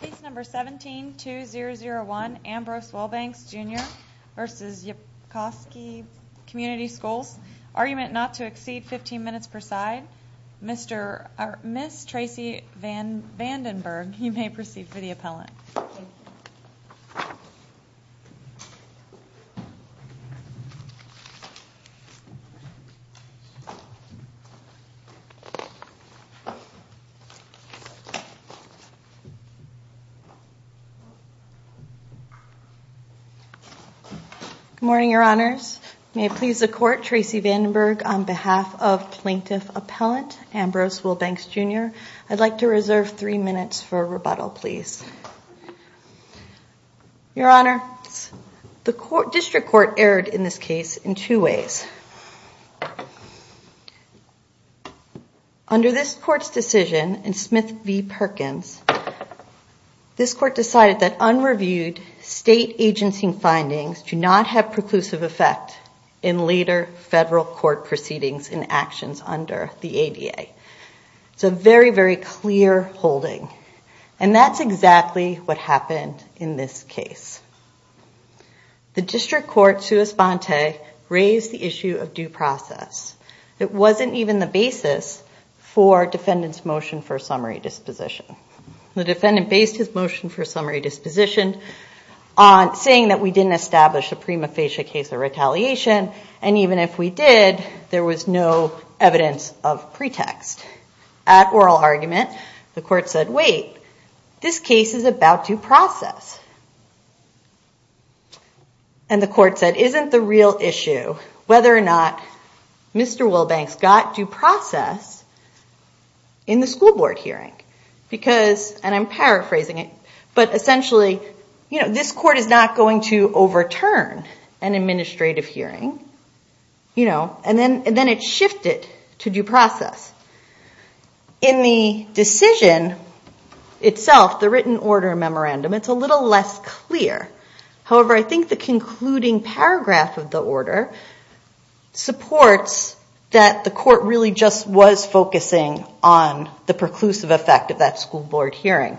Case No. 17-2001 Ambrose Wilbanks Jr v. Ypsilanti Community Schools Argument not to exceed 15 minutes per side Ms. Tracy Vandenberg, you may proceed for the appellant Good morning, Your Honors. May it please the Court, Tracy Vandenberg, on behalf of Plaintiff Appellant Ambrose Wilbanks Jr., I'd like to reserve three minutes for rebuttal, please. Your Honor, the District Court erred in this case in two ways. First, under this Court's decision in Smith v. Perkins, this Court decided that unreviewed state agency findings do not have preclusive effect in later federal court proceedings and actions under the ADA. It's a very, very clear holding. And that's exactly what happened in this case. The District Court, sua sponte, raised the issue of due process. It wasn't even the basis for defendant's motion for summary disposition. The defendant based his motion for summary disposition on saying that we didn't establish a prima facie case of retaliation, and even if we did, there was no evidence of pretext. At oral argument, the Court said, wait, this case is about due process. And the Court said, isn't the real issue whether or not Mr. Wilbanks got due process in the school board hearing? Because, and I'm paraphrasing it, but essentially, this Court is not going to overturn an administrative hearing. And then it shifted to due process. In the decision itself, the written order memorandum, it's a little less clear. However, I think the concluding paragraph of the order supports that the Court really just was focusing on the preclusive effect of that school board hearing.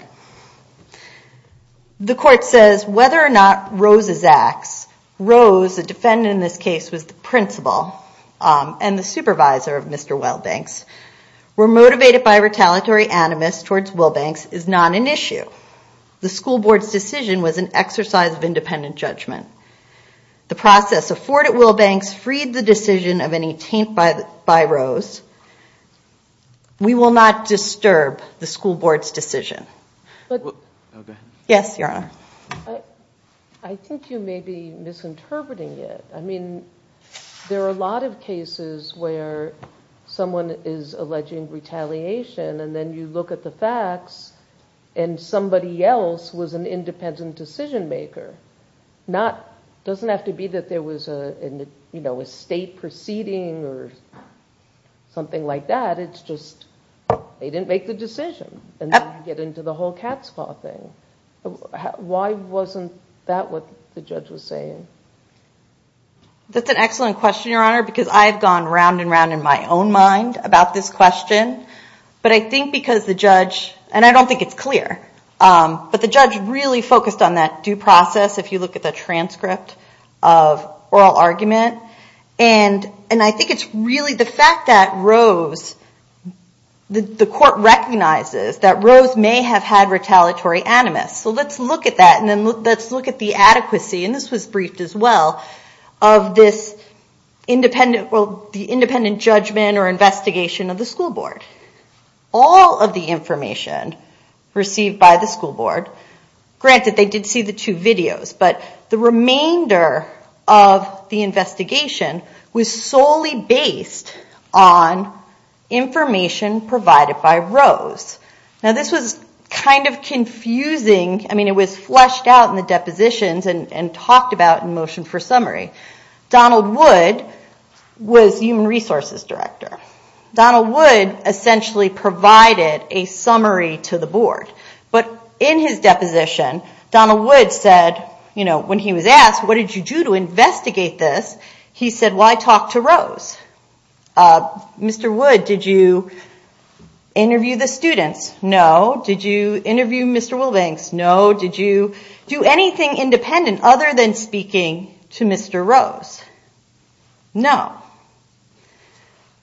The Court says, whether or not Rose's acts, Rose, the defendant in this case was the principal and the supervisor of Mr. Wilbanks, were motivated by retaliatory animus towards Wilbanks is not an issue. The school board's decision was an exercise of independent judgment. The process afforded Wilbanks freed the decision of any taint by Rose. We will not disturb the school board's decision. Yes, Your Honor. I think you may be misinterpreting it. I mean, there are a lot of cases where someone is alleging retaliation and then you look at the facts and somebody else was an independent decision maker. It doesn't have to be that there was a state proceeding or something like that. It's just they didn't make the decision. And then you get into the whole cat's claw thing. Why wasn't that what the judge was saying? That's an excellent question, Your Honor, because I've gone round and round in my own mind about this question. But I think because the judge, and I don't think it's clear, but the judge really focused on that due process if you look at the transcript of oral argument. And I think it's really the fact that Rose, the court recognizes that Rose may have had retaliatory animus. So let's look at that and then let's look at the adequacy, and this was briefed as well, of this independent judgment or investigation of the school board. All of the information received by the school board, granted they did see the two videos, but the remainder of the investigation was solely based on information provided by Rose. Now this was kind of confusing, I mean it was fleshed out in the depositions and talked about in motion for summary. Donald Wood was human resources director. Donald Wood essentially provided a summary to the board. But in his deposition, Donald Wood said, when he was asked, what did you do to investigate this? He said, why talk to Rose? Mr. Wood, did you interview the students? No. Did you interview Mr. Wilbanks? No. Did you do anything independent other than speaking to Mr. Rose? No.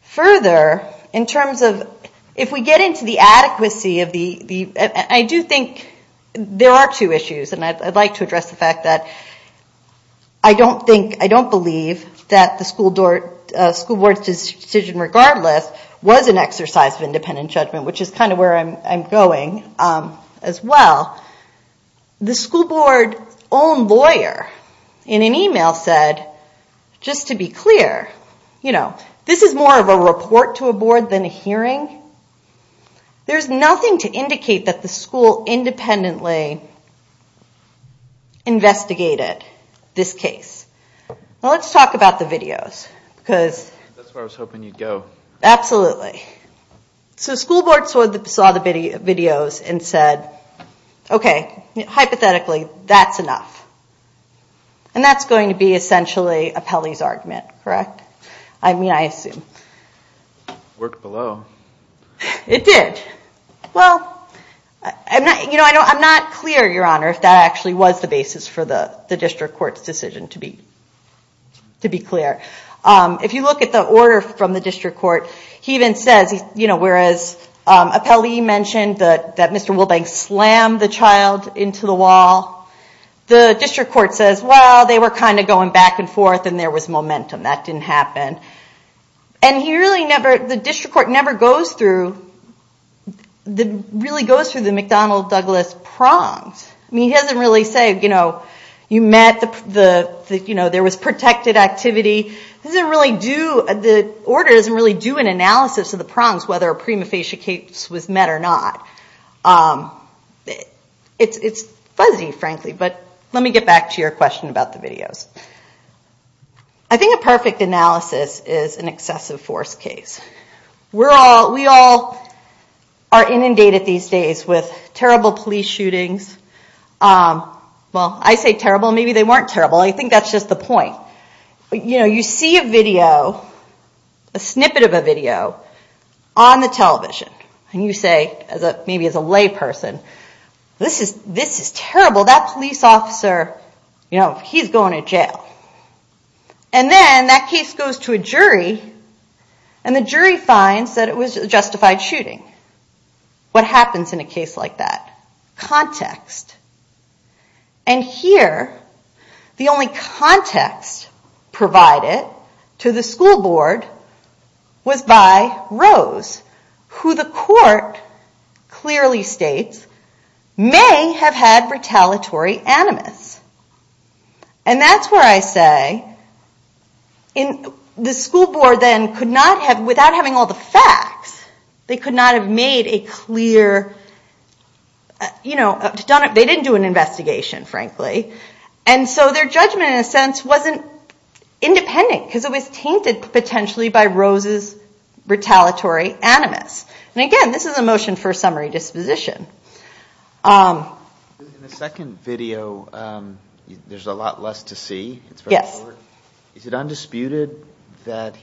Further, in terms of, if we get into the adequacy of the, I do think there are two issues, and I'd like to address the fact that I don't think, I don't believe that the school board's decision regardless was an exercise of independent judgment, which is kind of where I'm going as well. The school board's own lawyer, in an email said, just to be clear, this is more of a report to a board than a hearing. There's nothing to indicate that the school independently investigated this case. Well, let's talk about the videos. That's where I was hoping you'd go. Absolutely. So the school board saw the videos and said, okay, hypothetically, that's enough. And that's going to be essentially a Pelley's argument, correct? I mean, I assume. Worked below. It did. Well, I'm not clear, Your Honor, if that actually was the basis for the district court's decision to be clear. If you look at the order from the district court, he even says, whereas a Pelley mentioned that Mr. Wilbank slammed the child into the wall, the district court says, well, they were kind of going back and forth and there was momentum. That didn't happen. And he really never, the district court never goes through, really goes through the McDonnell-Douglas prongs. I mean, he doesn't really say, you know, you met, there was protected activity. The order doesn't really do an analysis of the prongs, whether a prima facie case was met or not. It's fuzzy, frankly. But let me get back to your question about the videos. I think a perfect analysis is an excessive force case. We all are inundated these days with terrible police shootings. Well, I say terrible. Maybe they weren't terrible. I think that's just the point. You know, you see a video, a snippet of a video on the television and you say, maybe as a layperson, this is terrible. That police officer, you know, he's going to jail. And then that case goes to a jury and the jury finds that it was a justified shooting. What happens in a case like that? Context. And here, the only context provided to the school board was by Rose, who the court clearly states may have had retaliatory animus. And that's where I say the school board then could not have, without having all the facts, they could not have made a clear, you know, they didn't do an investigation, frankly. And so their judgment in a sense wasn't independent because it was tainted potentially by Rose's retaliatory animus. And again, this is a motion for summary disposition. In the second video, there's a lot less to see. Yes. Is it undisputed that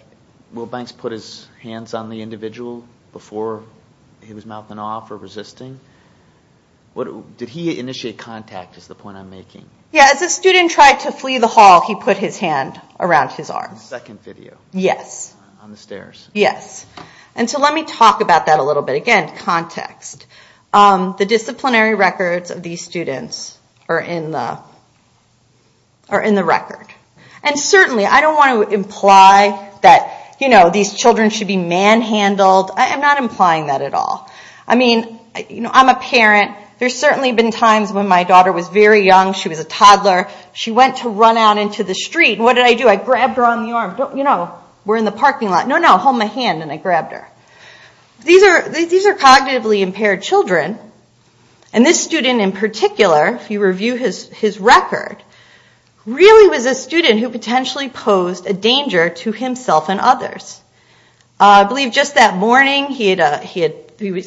Wilbanks put his hands on the individual before he was mouthing off or resisting? Did he initiate contact is the point I'm making? Yeah, as the student tried to flee the hall, he put his hand around his arm. In the second video. Yes. On the stairs. Yes. And so let me talk about that a little bit. Again, context. The disciplinary records of these students are in the record. And certainly, I don't want to imply that, you know, these children should be manhandled. I'm not implying that at all. I mean, you know, I'm a parent. There's certainly been times when my daughter was very young. She was a toddler. She went to run out into the street. What did I do? I grabbed her on the arm. You know, we're in the parking lot. No, no. I held my hand and I grabbed her. These are cognitively impaired children. And this student in particular, if you review his record, really was a student who potentially posed a danger to himself and others. I believe just that morning he had,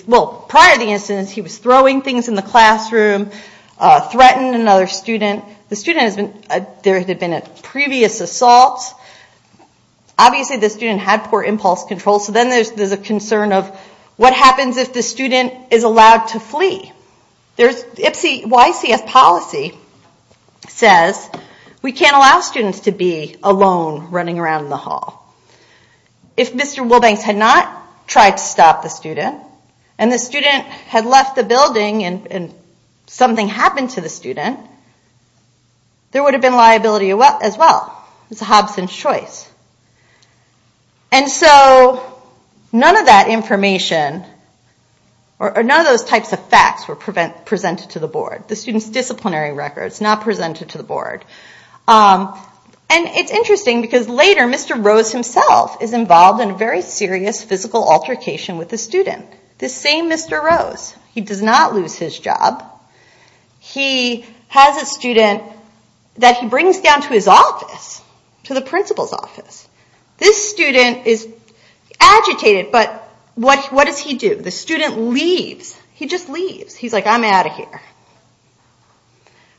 well, prior to the incident, he was throwing things in the classroom, threatened another student. The student has been, there had been a previous assault. Obviously, the student had poor impulse control. So then there's a concern of what happens if the student is allowed to flee. YCF policy says we can't allow students to be alone running around the hall. If Mr. Wilbanks had not tried to stop the student, and the student had left the building and something happened to the student, there would have been liability as well. It's a Hobson's choice. And so none of that information, or none of those types of facts were presented to the board. The student's disciplinary record is not presented to the board. And it's interesting because later Mr. Rose himself is involved in a very serious physical altercation with the student. The same Mr. Rose. He does not lose his job. He has a student that he brings down to his office, to the principal's office. This student is agitated, but what does he do? The student leaves. He just leaves. He's like, I'm out of here.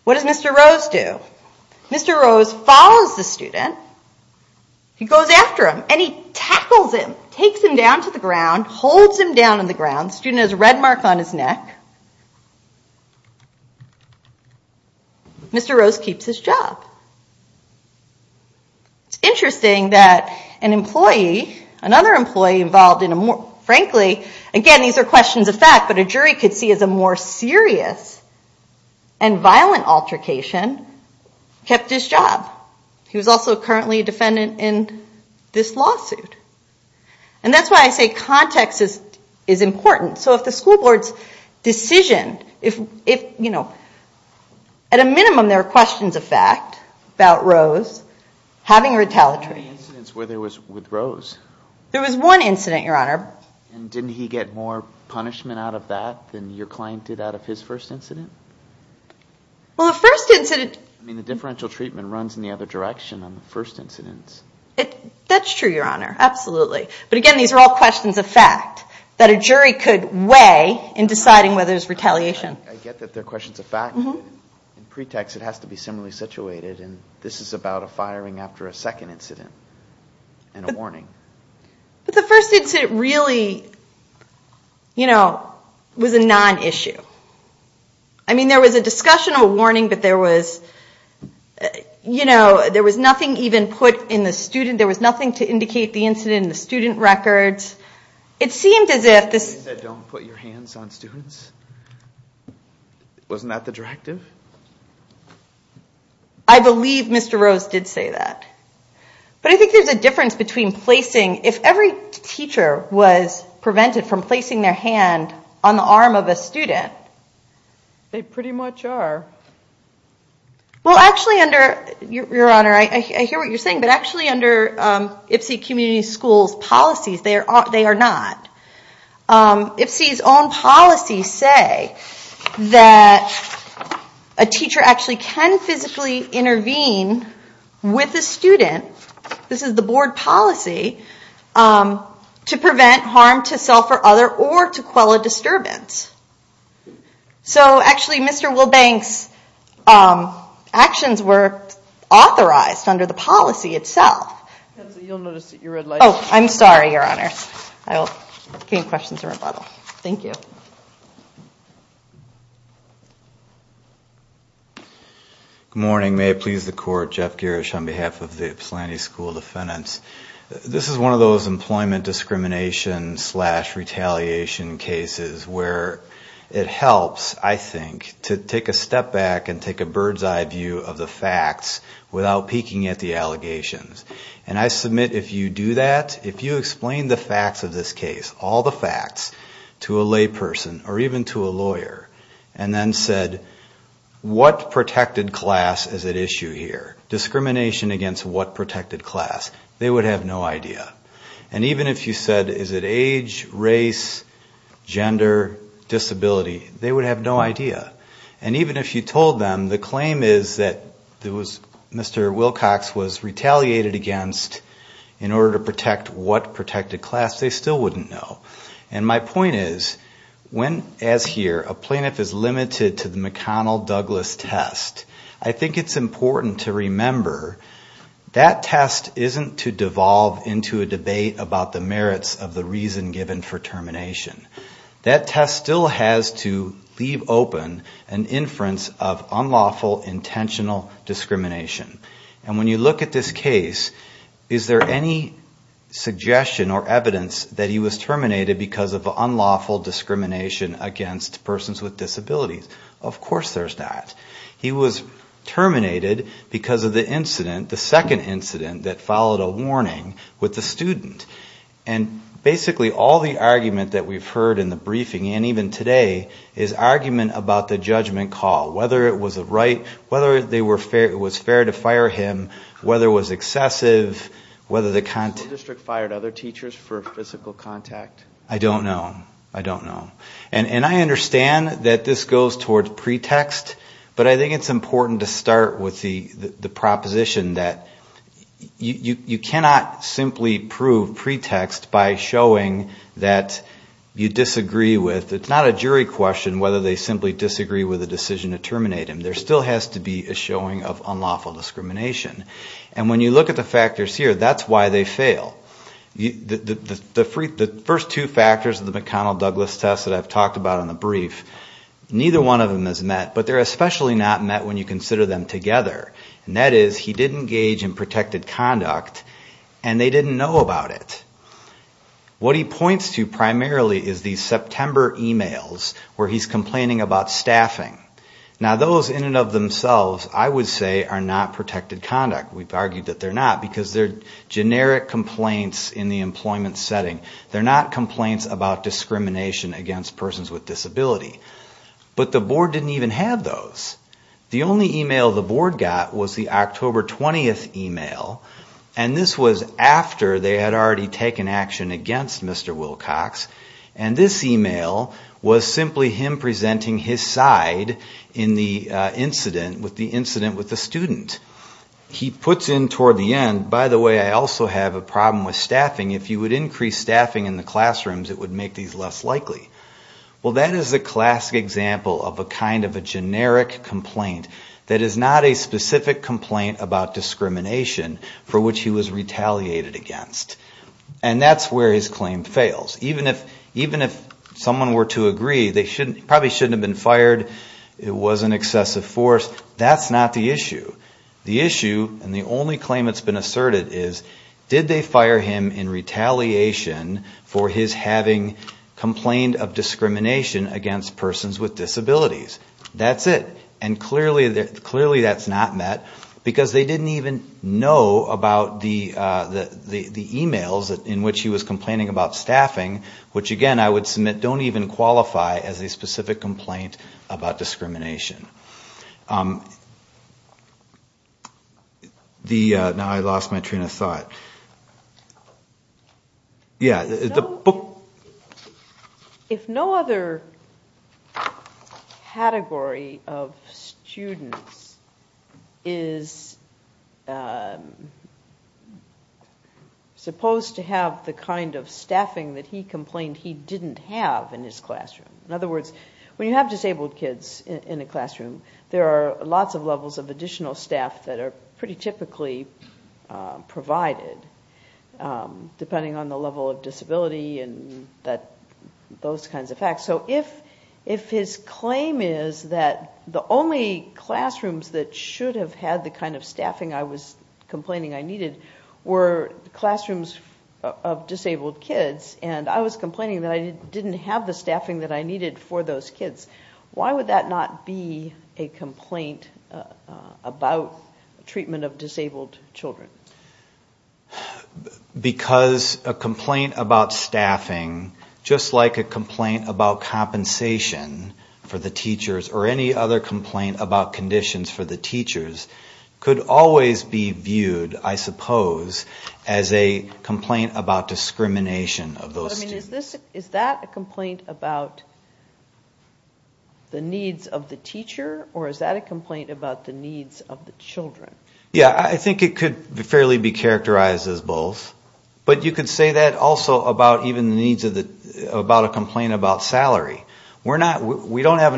What does Mr. Rose do? Mr. Rose follows the student. He goes after him, and he tackles him, takes him down to the ground, holds him down on the ground. The student has a red mark on his neck. Mr. Rose keeps his job. It's interesting that an employee, another employee involved in a more, frankly, again, these are questions of fact, but a jury could see as a more serious and violent altercation, kept his job. He was also currently a defendant in this lawsuit. And that's why I say context is important. So if the school board's decision, if, you know, at a minimum, there are questions of fact about Rose having retaliatory. How many incidents were there with Rose? There was one incident, Your Honor. And didn't he get more punishment out of that than your client did out of his first incident? Well, the first incident... I mean, the differential treatment runs in the other direction on the first incidents. That's true, Your Honor. Absolutely. But again, these are all questions of fact that a jury could weigh in deciding whether there's retaliation. I get that they're questions of fact. In pretext, it has to be similarly situated, and this is about a firing after a second incident and a warning. But the first incident really, you know, was a non-issue. I mean, there was a discussion of a warning, but there was, you know, there was nothing even put in the student. There was nothing to indicate the incident in the student records. It seemed as if this... You said don't put your hands on students. Wasn't that the directive? I believe Mr. Rose did say that. But I think there's a difference between placing. If every teacher was prevented from placing their hand on the arm of a student... They pretty much are. Well, actually under... Your Honor, I hear what you're saying, but actually under IPSE community schools' policies, they are not. IPSE's own policies say that a teacher actually can physically intervene with a student, this is the board policy, to prevent harm to self or other or to quell a disturbance. So, actually, Mr. Wilbank's actions were authorized under the policy itself. Oh, I'm sorry, Your Honor. I'll give questions in rebuttal. Thank you. Good morning. May it please the Court. Jeff Girish on behalf of the Ypsilanti School Defendants. This is one of those employment discrimination slash retaliation cases where it helps, I think, to take a step back and take a bird's eye view of the facts without peeking at the allegations. And I submit if you do that, if you explain the facts of this case, all the facts, to a layperson or even to a lawyer, and then said, what protected class is at issue here? Discrimination against what protected class? They would have no idea. And even if you said, is it age, race, gender, disability? They would have no idea. And even if you told them the claim is that Mr. Wilcox was retaliated against in order to protect what protected class, they still wouldn't know. And my point is, when, as here, a plaintiff is limited to the McConnell-Douglas test, I think it's important to remember that test isn't to devolve into a debate about the merits of the reason given for termination. That test still has to leave open an inference of unlawful, intentional discrimination. And when you look at this case, is there any suggestion or evidence that he was terminated because of unlawful discrimination against persons with disabilities? Of course there's not. He was terminated because of the incident, the second incident that followed a warning with the student. And basically all the argument that we've heard in the briefing, and even today, is argument about the judgment call, whether it was a right, whether it was fair to fire him, whether it was excessive, whether the content... Did the school district fire other teachers for physical contact? I don't know. I don't know. And I understand that this goes towards pretext, but I think it's important to start with the proposition that you cannot simply prove pretext by showing that you disagree with... It's not a jury question whether they simply disagree with the decision to terminate him. There still has to be a showing of unlawful discrimination. And when you look at the factors here, that's why they fail. The first two factors of the McConnell-Douglas test that I've talked about in the brief, neither one of them is met, but they're especially not met when you consider them together. And that is, he did engage in protected conduct, and they didn't know about it. What he points to primarily is these September emails where he's complaining about staffing. Now those in and of themselves, I would say, are not protected conduct. We've argued that they're not, because they're generic complaints in the employment setting. They're not complaints about discrimination against persons with disability. But the board didn't even have those. The only email the board got was the October 20th email, and this was after they had already taken action against Mr. Wilcox. And this email was simply him presenting his side in the incident with the student. He puts in toward the end, by the way, I also have a problem with staffing. If you would increase staffing in the classrooms, it would make these less likely. Well, that is a classic example of a kind of a generic complaint that is not a specific complaint about discrimination for which he was retaliated against. And that's where his claim fails. Even if someone were to agree, they probably shouldn't have been fired, it was an excessive force. That's not the issue. The issue, and the only claim that's been asserted is, did they fire him in retaliation for his having complained of discrimination against persons with disabilities? That's it. And clearly that's not met, because they didn't even know about the emails in which he was complaining about staffing, which again I would submit don't even qualify as a specific complaint about discrimination. Now I lost my train of thought. If no other category of students is supposed to have the kind of staffing that he complained he didn't have in his classroom... In other words, when you have disabled kids in a classroom, there are lots of levels of additional staff that are pretty typically provided, depending on the level of disability, and those kinds of facts. So if his claim is that the only classrooms that should have had the kind of staffing I was complaining I needed were classrooms of disabled kids, and I was complaining that I didn't have the staffing that I needed for those kids, why would that not be a complaint about treatment of disabled children? Because a complaint about staffing, just like a complaint about compensation for the teachers, or any other complaint about conditions for the teachers, could always be viewed, I suppose, as a complaint about discrimination of those students. Is that a complaint about the needs of the teacher, or is that a complaint about the needs of the children? Yeah, I think it could fairly be characterized as both. But you could say that also about a complaint about salary. We don't have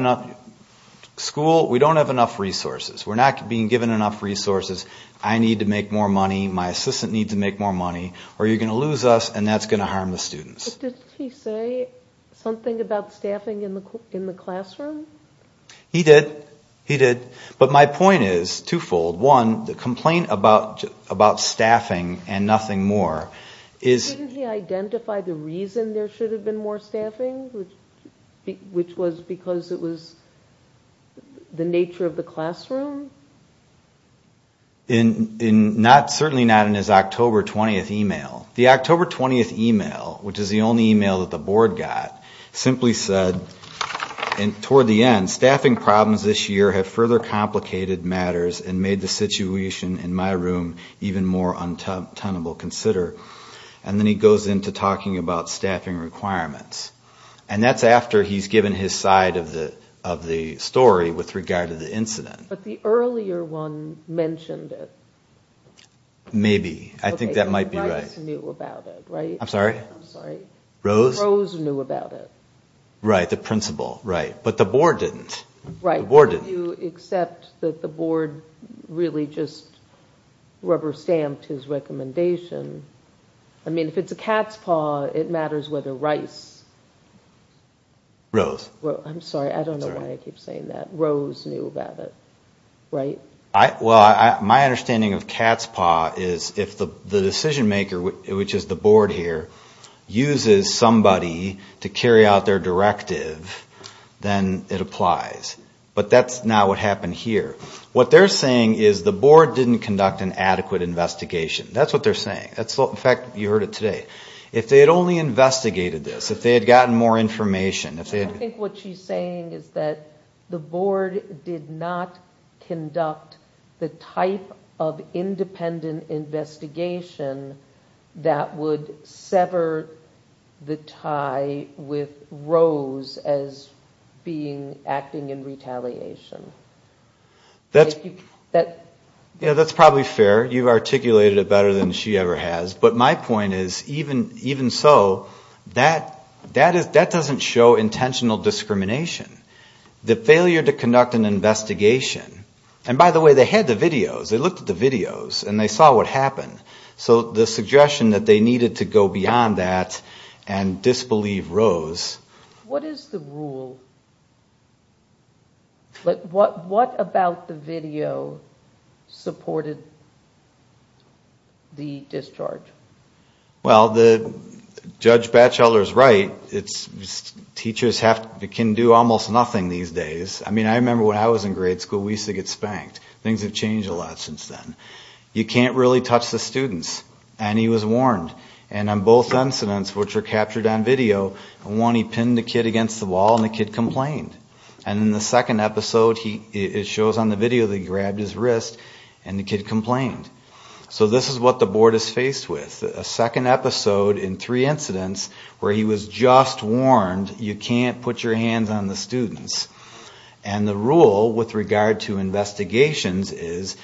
enough resources. We're not being given enough resources. I need to make more money, my assistant needs to make more money, or you're going to lose us, and that's going to harm the students. But didn't he say something about staffing in the classroom? He did. But my point is twofold. One, the complaint about staffing and nothing more is... Didn't he identify the reason there should have been more staffing, which was because it was the nature of the classroom? Certainly not in his October 20th email. The October 20th email, which is the only email that the board got, simply said, toward the end, staffing problems this year have further complicated matters and made the situation in my room even more untenable to consider. And then he goes into talking about staffing requirements. And that's after he's given his side of the story with regard to the incident. But the earlier one mentioned it. Maybe. I think that might be right. Rice knew about it, right? I'm sorry? Rose? Rose knew about it. Right, the principal, right. But the board didn't. Right, except that the board really just rubber-stamped his recommendation. I mean, if it's a cat's paw, it matters whether Rice... Rose. I'm sorry, I don't know why I keep saying that. Rose knew about it, right? Well, my understanding of cat's paw is if the decision maker, which is the board here, uses somebody to carry out their directive, then it applies. But that's not what happened here. What they're saying is the board didn't conduct an adequate investigation. That's what they're saying. In fact, you heard it today. If they had only investigated this, if they had gotten more information... I think what she's saying is that the board did not conduct the type of independent investigation that would sever the tie with Rose as acting in retaliation. That's probably fair. You've articulated it better than she ever has. But my point is, even so, that doesn't show intentional discrimination. The failure to conduct an investigation... And by the way, they had the videos. They looked at the videos and they saw what happened. So the suggestion that they needed to go beyond that and disbelieve Rose... What is the rule? What about the video supported the discharge? Well, Judge Batchelor is right. Teachers can do almost nothing these days. I remember when I was in grade school, we used to get spanked. Things have changed a lot since then. You can't really touch the students. And he was warned. And on both incidents, which were captured on video, in one he pinned the kid against the wall and the kid complained. And in the second episode, it shows on the video that he grabbed his wrist and the kid complained. So this is what the Board is faced with. A second episode in three incidents where he was just warned you can't put your hands on the students. And the rule with regard to investigations is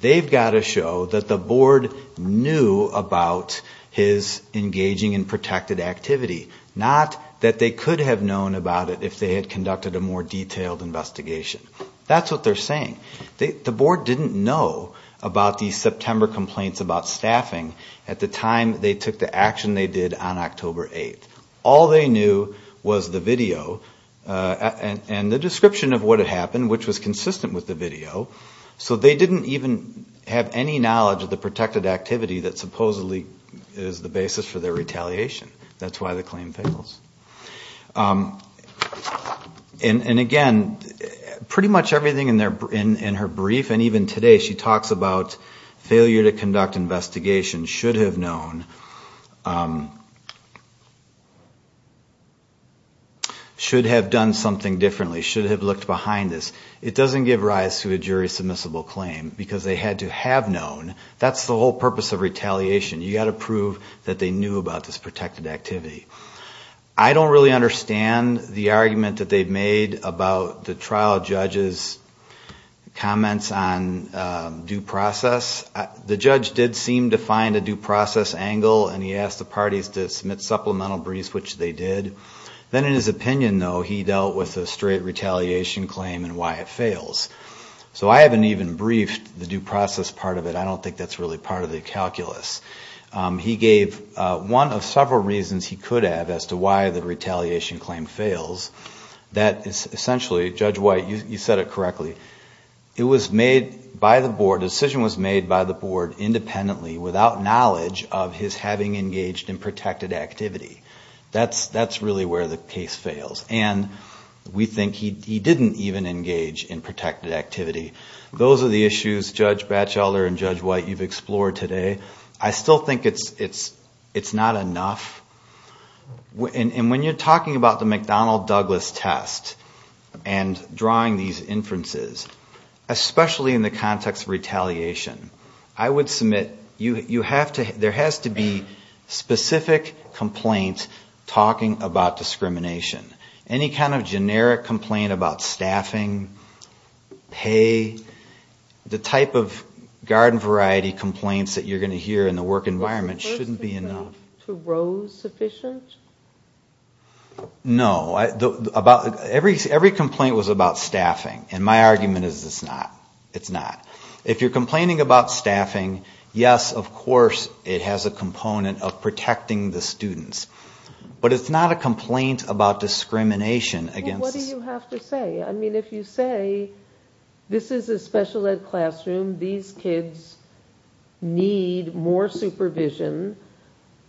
they've got to show that the Board knew about his engaging in protected activity. Not that they could have known about it if they had conducted a more detailed investigation. That's what they're saying. The Board didn't know about the September complaints about staffing at the time they took the action they did on October 8th. All they knew was the video and the description of what had happened, which was consistent with the video. So they didn't even have any knowledge of the protected activity that supposedly is the basis for their retaliation. And again, pretty much everything in their brief and even today, she talks about failure to conduct investigation should have known. Should have done something differently. Should have looked behind this. It doesn't give rise to a jury submissible claim because they had to have known. That's the whole purpose of retaliation. You've got to prove that they knew about this protected activity. I don't really understand the argument that they've made about the trial judge's comments on due process. The judge did seem to find a due process angle and he asked the parties to submit supplemental briefs, which they did. Then in his opinion, though, he dealt with a straight retaliation claim and why it fails. So I haven't even briefed the due process part of it. I don't think that's really part of the calculus. He gave one of several reasons he could have as to why the retaliation claim fails. Essentially, Judge White, you said it correctly, the decision was made by the board independently without knowledge of his having engaged in protected activity. That's really where the case fails. And we think he didn't even engage in protected activity. Those are the issues, Judge Batchelor and Judge White, you've explored today. I still think it's not enough. And when you're talking about the McDonnell-Douglas test and drawing these inferences, especially in the context of retaliation, I would submit there has to be specific complaints talking about discrimination. Any kind of generic complaint about staffing, pay, the type of garden variety complaints that you're going to hear in the work environment shouldn't be enough. No. Every complaint was about staffing. And my argument is it's not. If you're complaining about staffing, yes, of course it has a component of protecting the students. But it's not a complaint about discrimination. What do you have to say? If you say this is a special ed classroom, these kids need more supervision,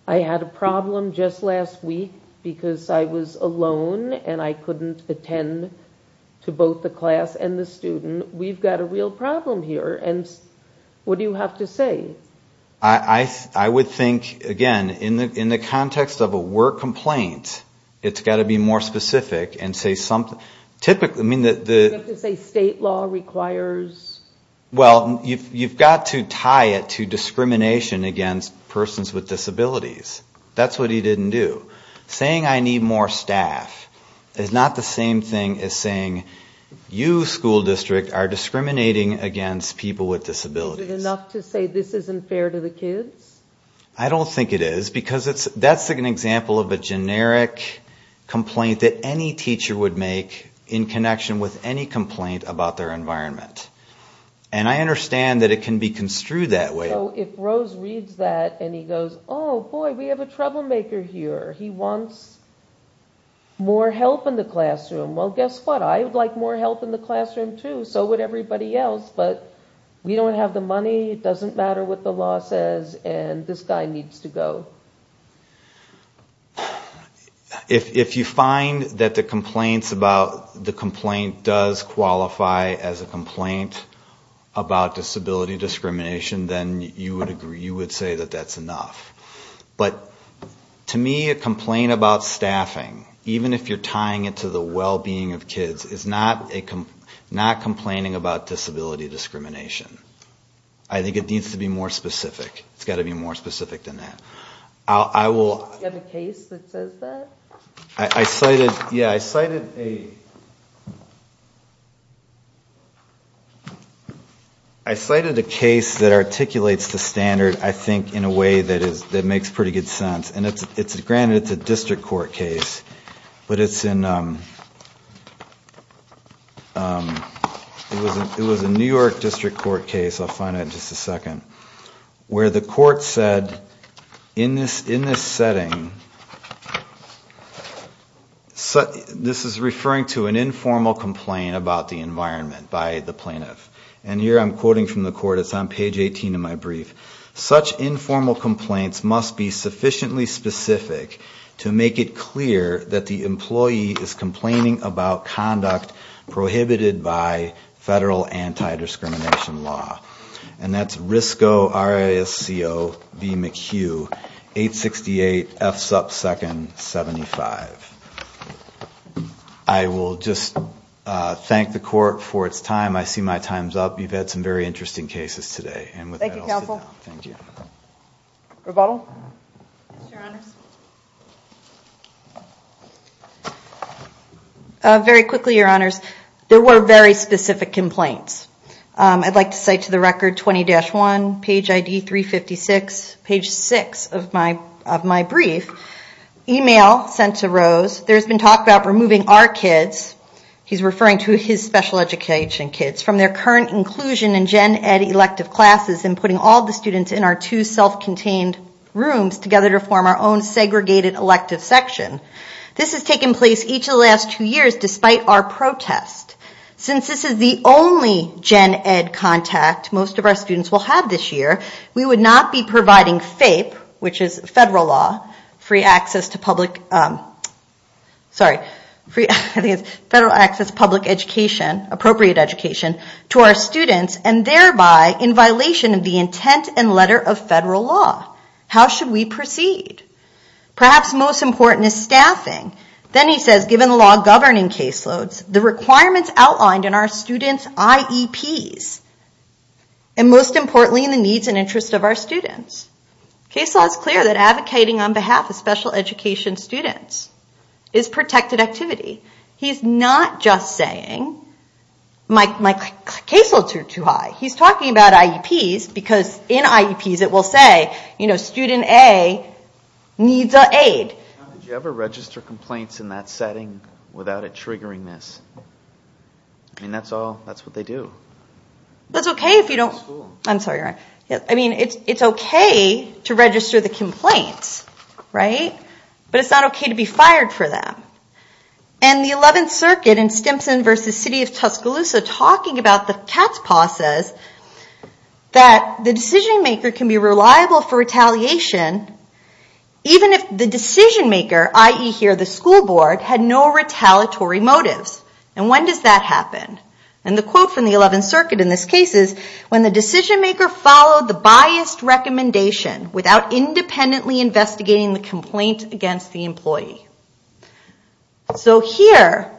I had a problem just last week because I was alone and I couldn't attend to both the class and the student. We've got a real problem here. What do you have to say? I would think, again, in the context of a work complaint, it's got to be more specific. You have to say state law requires... Well, you've got to tie it to discrimination against persons with disabilities. That's what he didn't do. Saying I need more staff is not the same thing as saying you, school district, are discriminating against people with disabilities. Is it enough to say this isn't fair to the kids? I don't think it is, because that's an example of a generic complaint that any teacher would make in connection with any complaint about their environment. And I understand that it can be construed that way. So if Rose reads that and he goes, oh, boy, we have a troublemaker here. He wants more help in the classroom. Well, guess what? I would like more help in the classroom too. So would everybody else. But we don't have the money. It doesn't matter what the law says. And this guy needs to go. If you find that the complaint does qualify as a complaint about disability discrimination, then you would say that that's enough. But to me, a complaint about staffing, even if you're tying it to the well-being of kids, is not complaining about disability discrimination. I think it needs to be more specific. It's got to be more specific than that. Do you have a case that says that? Yeah, I cited a case that articulates the standard, I think, in a way that makes pretty good sense. Granted, it's a district court case, but it's in... It was a New York district court case, I'll find it in just a second, where the court said in this setting... This is referring to an informal complaint about the environment by the plaintiff. And here I'm quoting from the court. It's on page 18 of my brief. Such informal complaints must be sufficiently specific to make it clear that the employee is complaining about conduct prohibited by federal anti-discrimination law. And that's RISCO, R-I-S-C-O, B McHugh, 868 F sub 2nd 75. I will just thank the court for its time. I see my time's up. You've had some very interesting cases today. Thank you, counsel. Very quickly, your honors. There were very specific complaints. I'd like to cite to the record 20-1, page ID 356, page 6 of my brief. There's been talk about removing our kids, he's referring to his special education kids, from their current inclusion in Gen Ed elective classes and putting all the students in our two self-contained rooms together to form our own segregated elective section. This has taken place each of the last two years despite our protest. Since this is the only Gen Ed contact most of our students will have this year, we would not be providing FAPE, which is federal law, free access to public, sorry, I think it's federal access to public education, appropriate education, to our students and thereby in violation of the intent and letter of federal law. How should we proceed? Perhaps most important is staffing. Then he says, given the law governing caseloads, the requirements outlined in our students' IEPs, and most importantly in the needs and interests of our students. Case law is clear that advocating on behalf of special education students is protected activity. He's not just saying, my caseloads are too high. He's talking about IEPs because in IEPs it will say, student A needs an aid. Did you ever register complaints in that setting without it triggering this? That's what they do. It's okay if you don't. It's okay to register the complaints, but it's not okay to be fired for them. The 11th Circuit in Stimson v. City of Tuscaloosa talking about the cat's paw says that the decision maker can be reliable for retaliation even if the decision maker, i.e. the school board, had no retaliatory motives. When does that happen? The quote from the 11th Circuit in this case is, when the decision maker followed the biased recommendation without independently investigating the complaint against the employee. So here,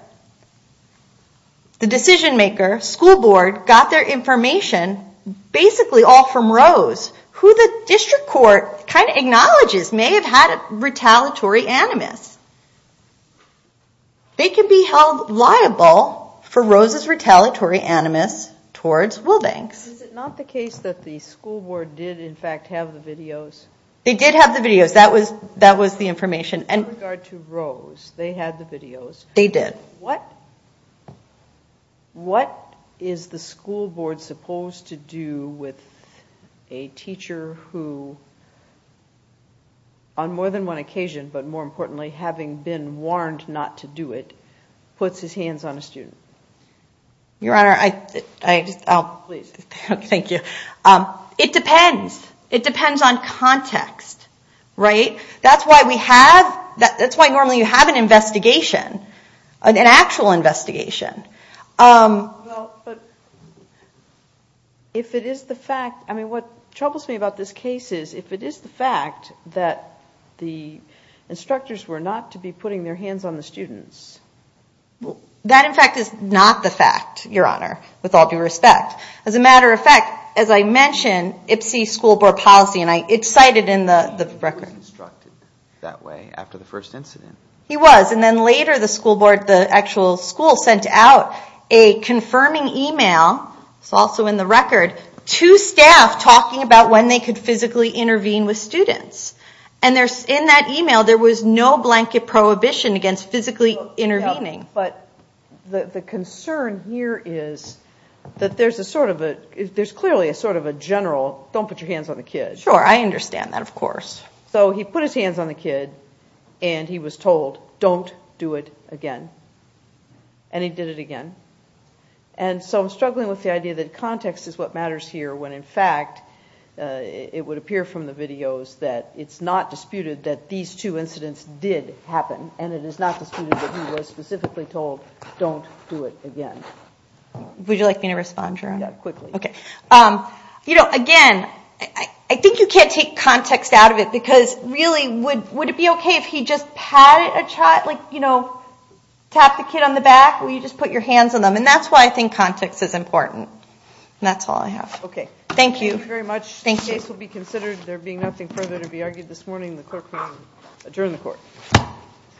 the decision maker, school board, got their information basically all from Rose, who the district court kind of acknowledges may have had retaliatory animus. They can be held liable for Rose's retaliatory animus towards Wilbanks. Is it not the case that the school board did in fact have the videos? They did have the videos. That was the information. In regard to Rose, they had the videos. They did. What is the school board supposed to do with a teacher who, on more than one occasion, but more importantly having been warned not to do it, puts his hands on a student? Your Honor, it depends. It depends on context. That's why normally you have an investigation, an actual investigation. What troubles me about this case is if it is the fact that the instructors were not to be putting their hands on the students. That in fact is not the fact, Your Honor, with all due respect. As a matter of fact, as I mentioned, Ipsy's school board policy, and it's cited in the record. He was instructed that way after the first incident. He was. Then later the school board, the actual school, sent out a confirming email. It's also in the record. Two staff talking about when they could physically intervene with students. In that email, there was no blanket prohibition against physically intervening. The concern here is that there is clearly a general, don't put your hands on the kid. Sure, I understand that, of course. He put his hands on the kid and he was told, don't do it again. He did it again. I'm struggling with the idea that context is what matters here when in fact it would appear from the videos that it's not disputed that these two incidents did happen. It is not disputed that he was specifically told, don't do it again. Would you like me to respond, Jerome? Again, I think you can't take context out of it because really, would it be okay if he just tapped the kid on the back or you just put your hands on them? That's why I think context is important. That's all I have. Thank you.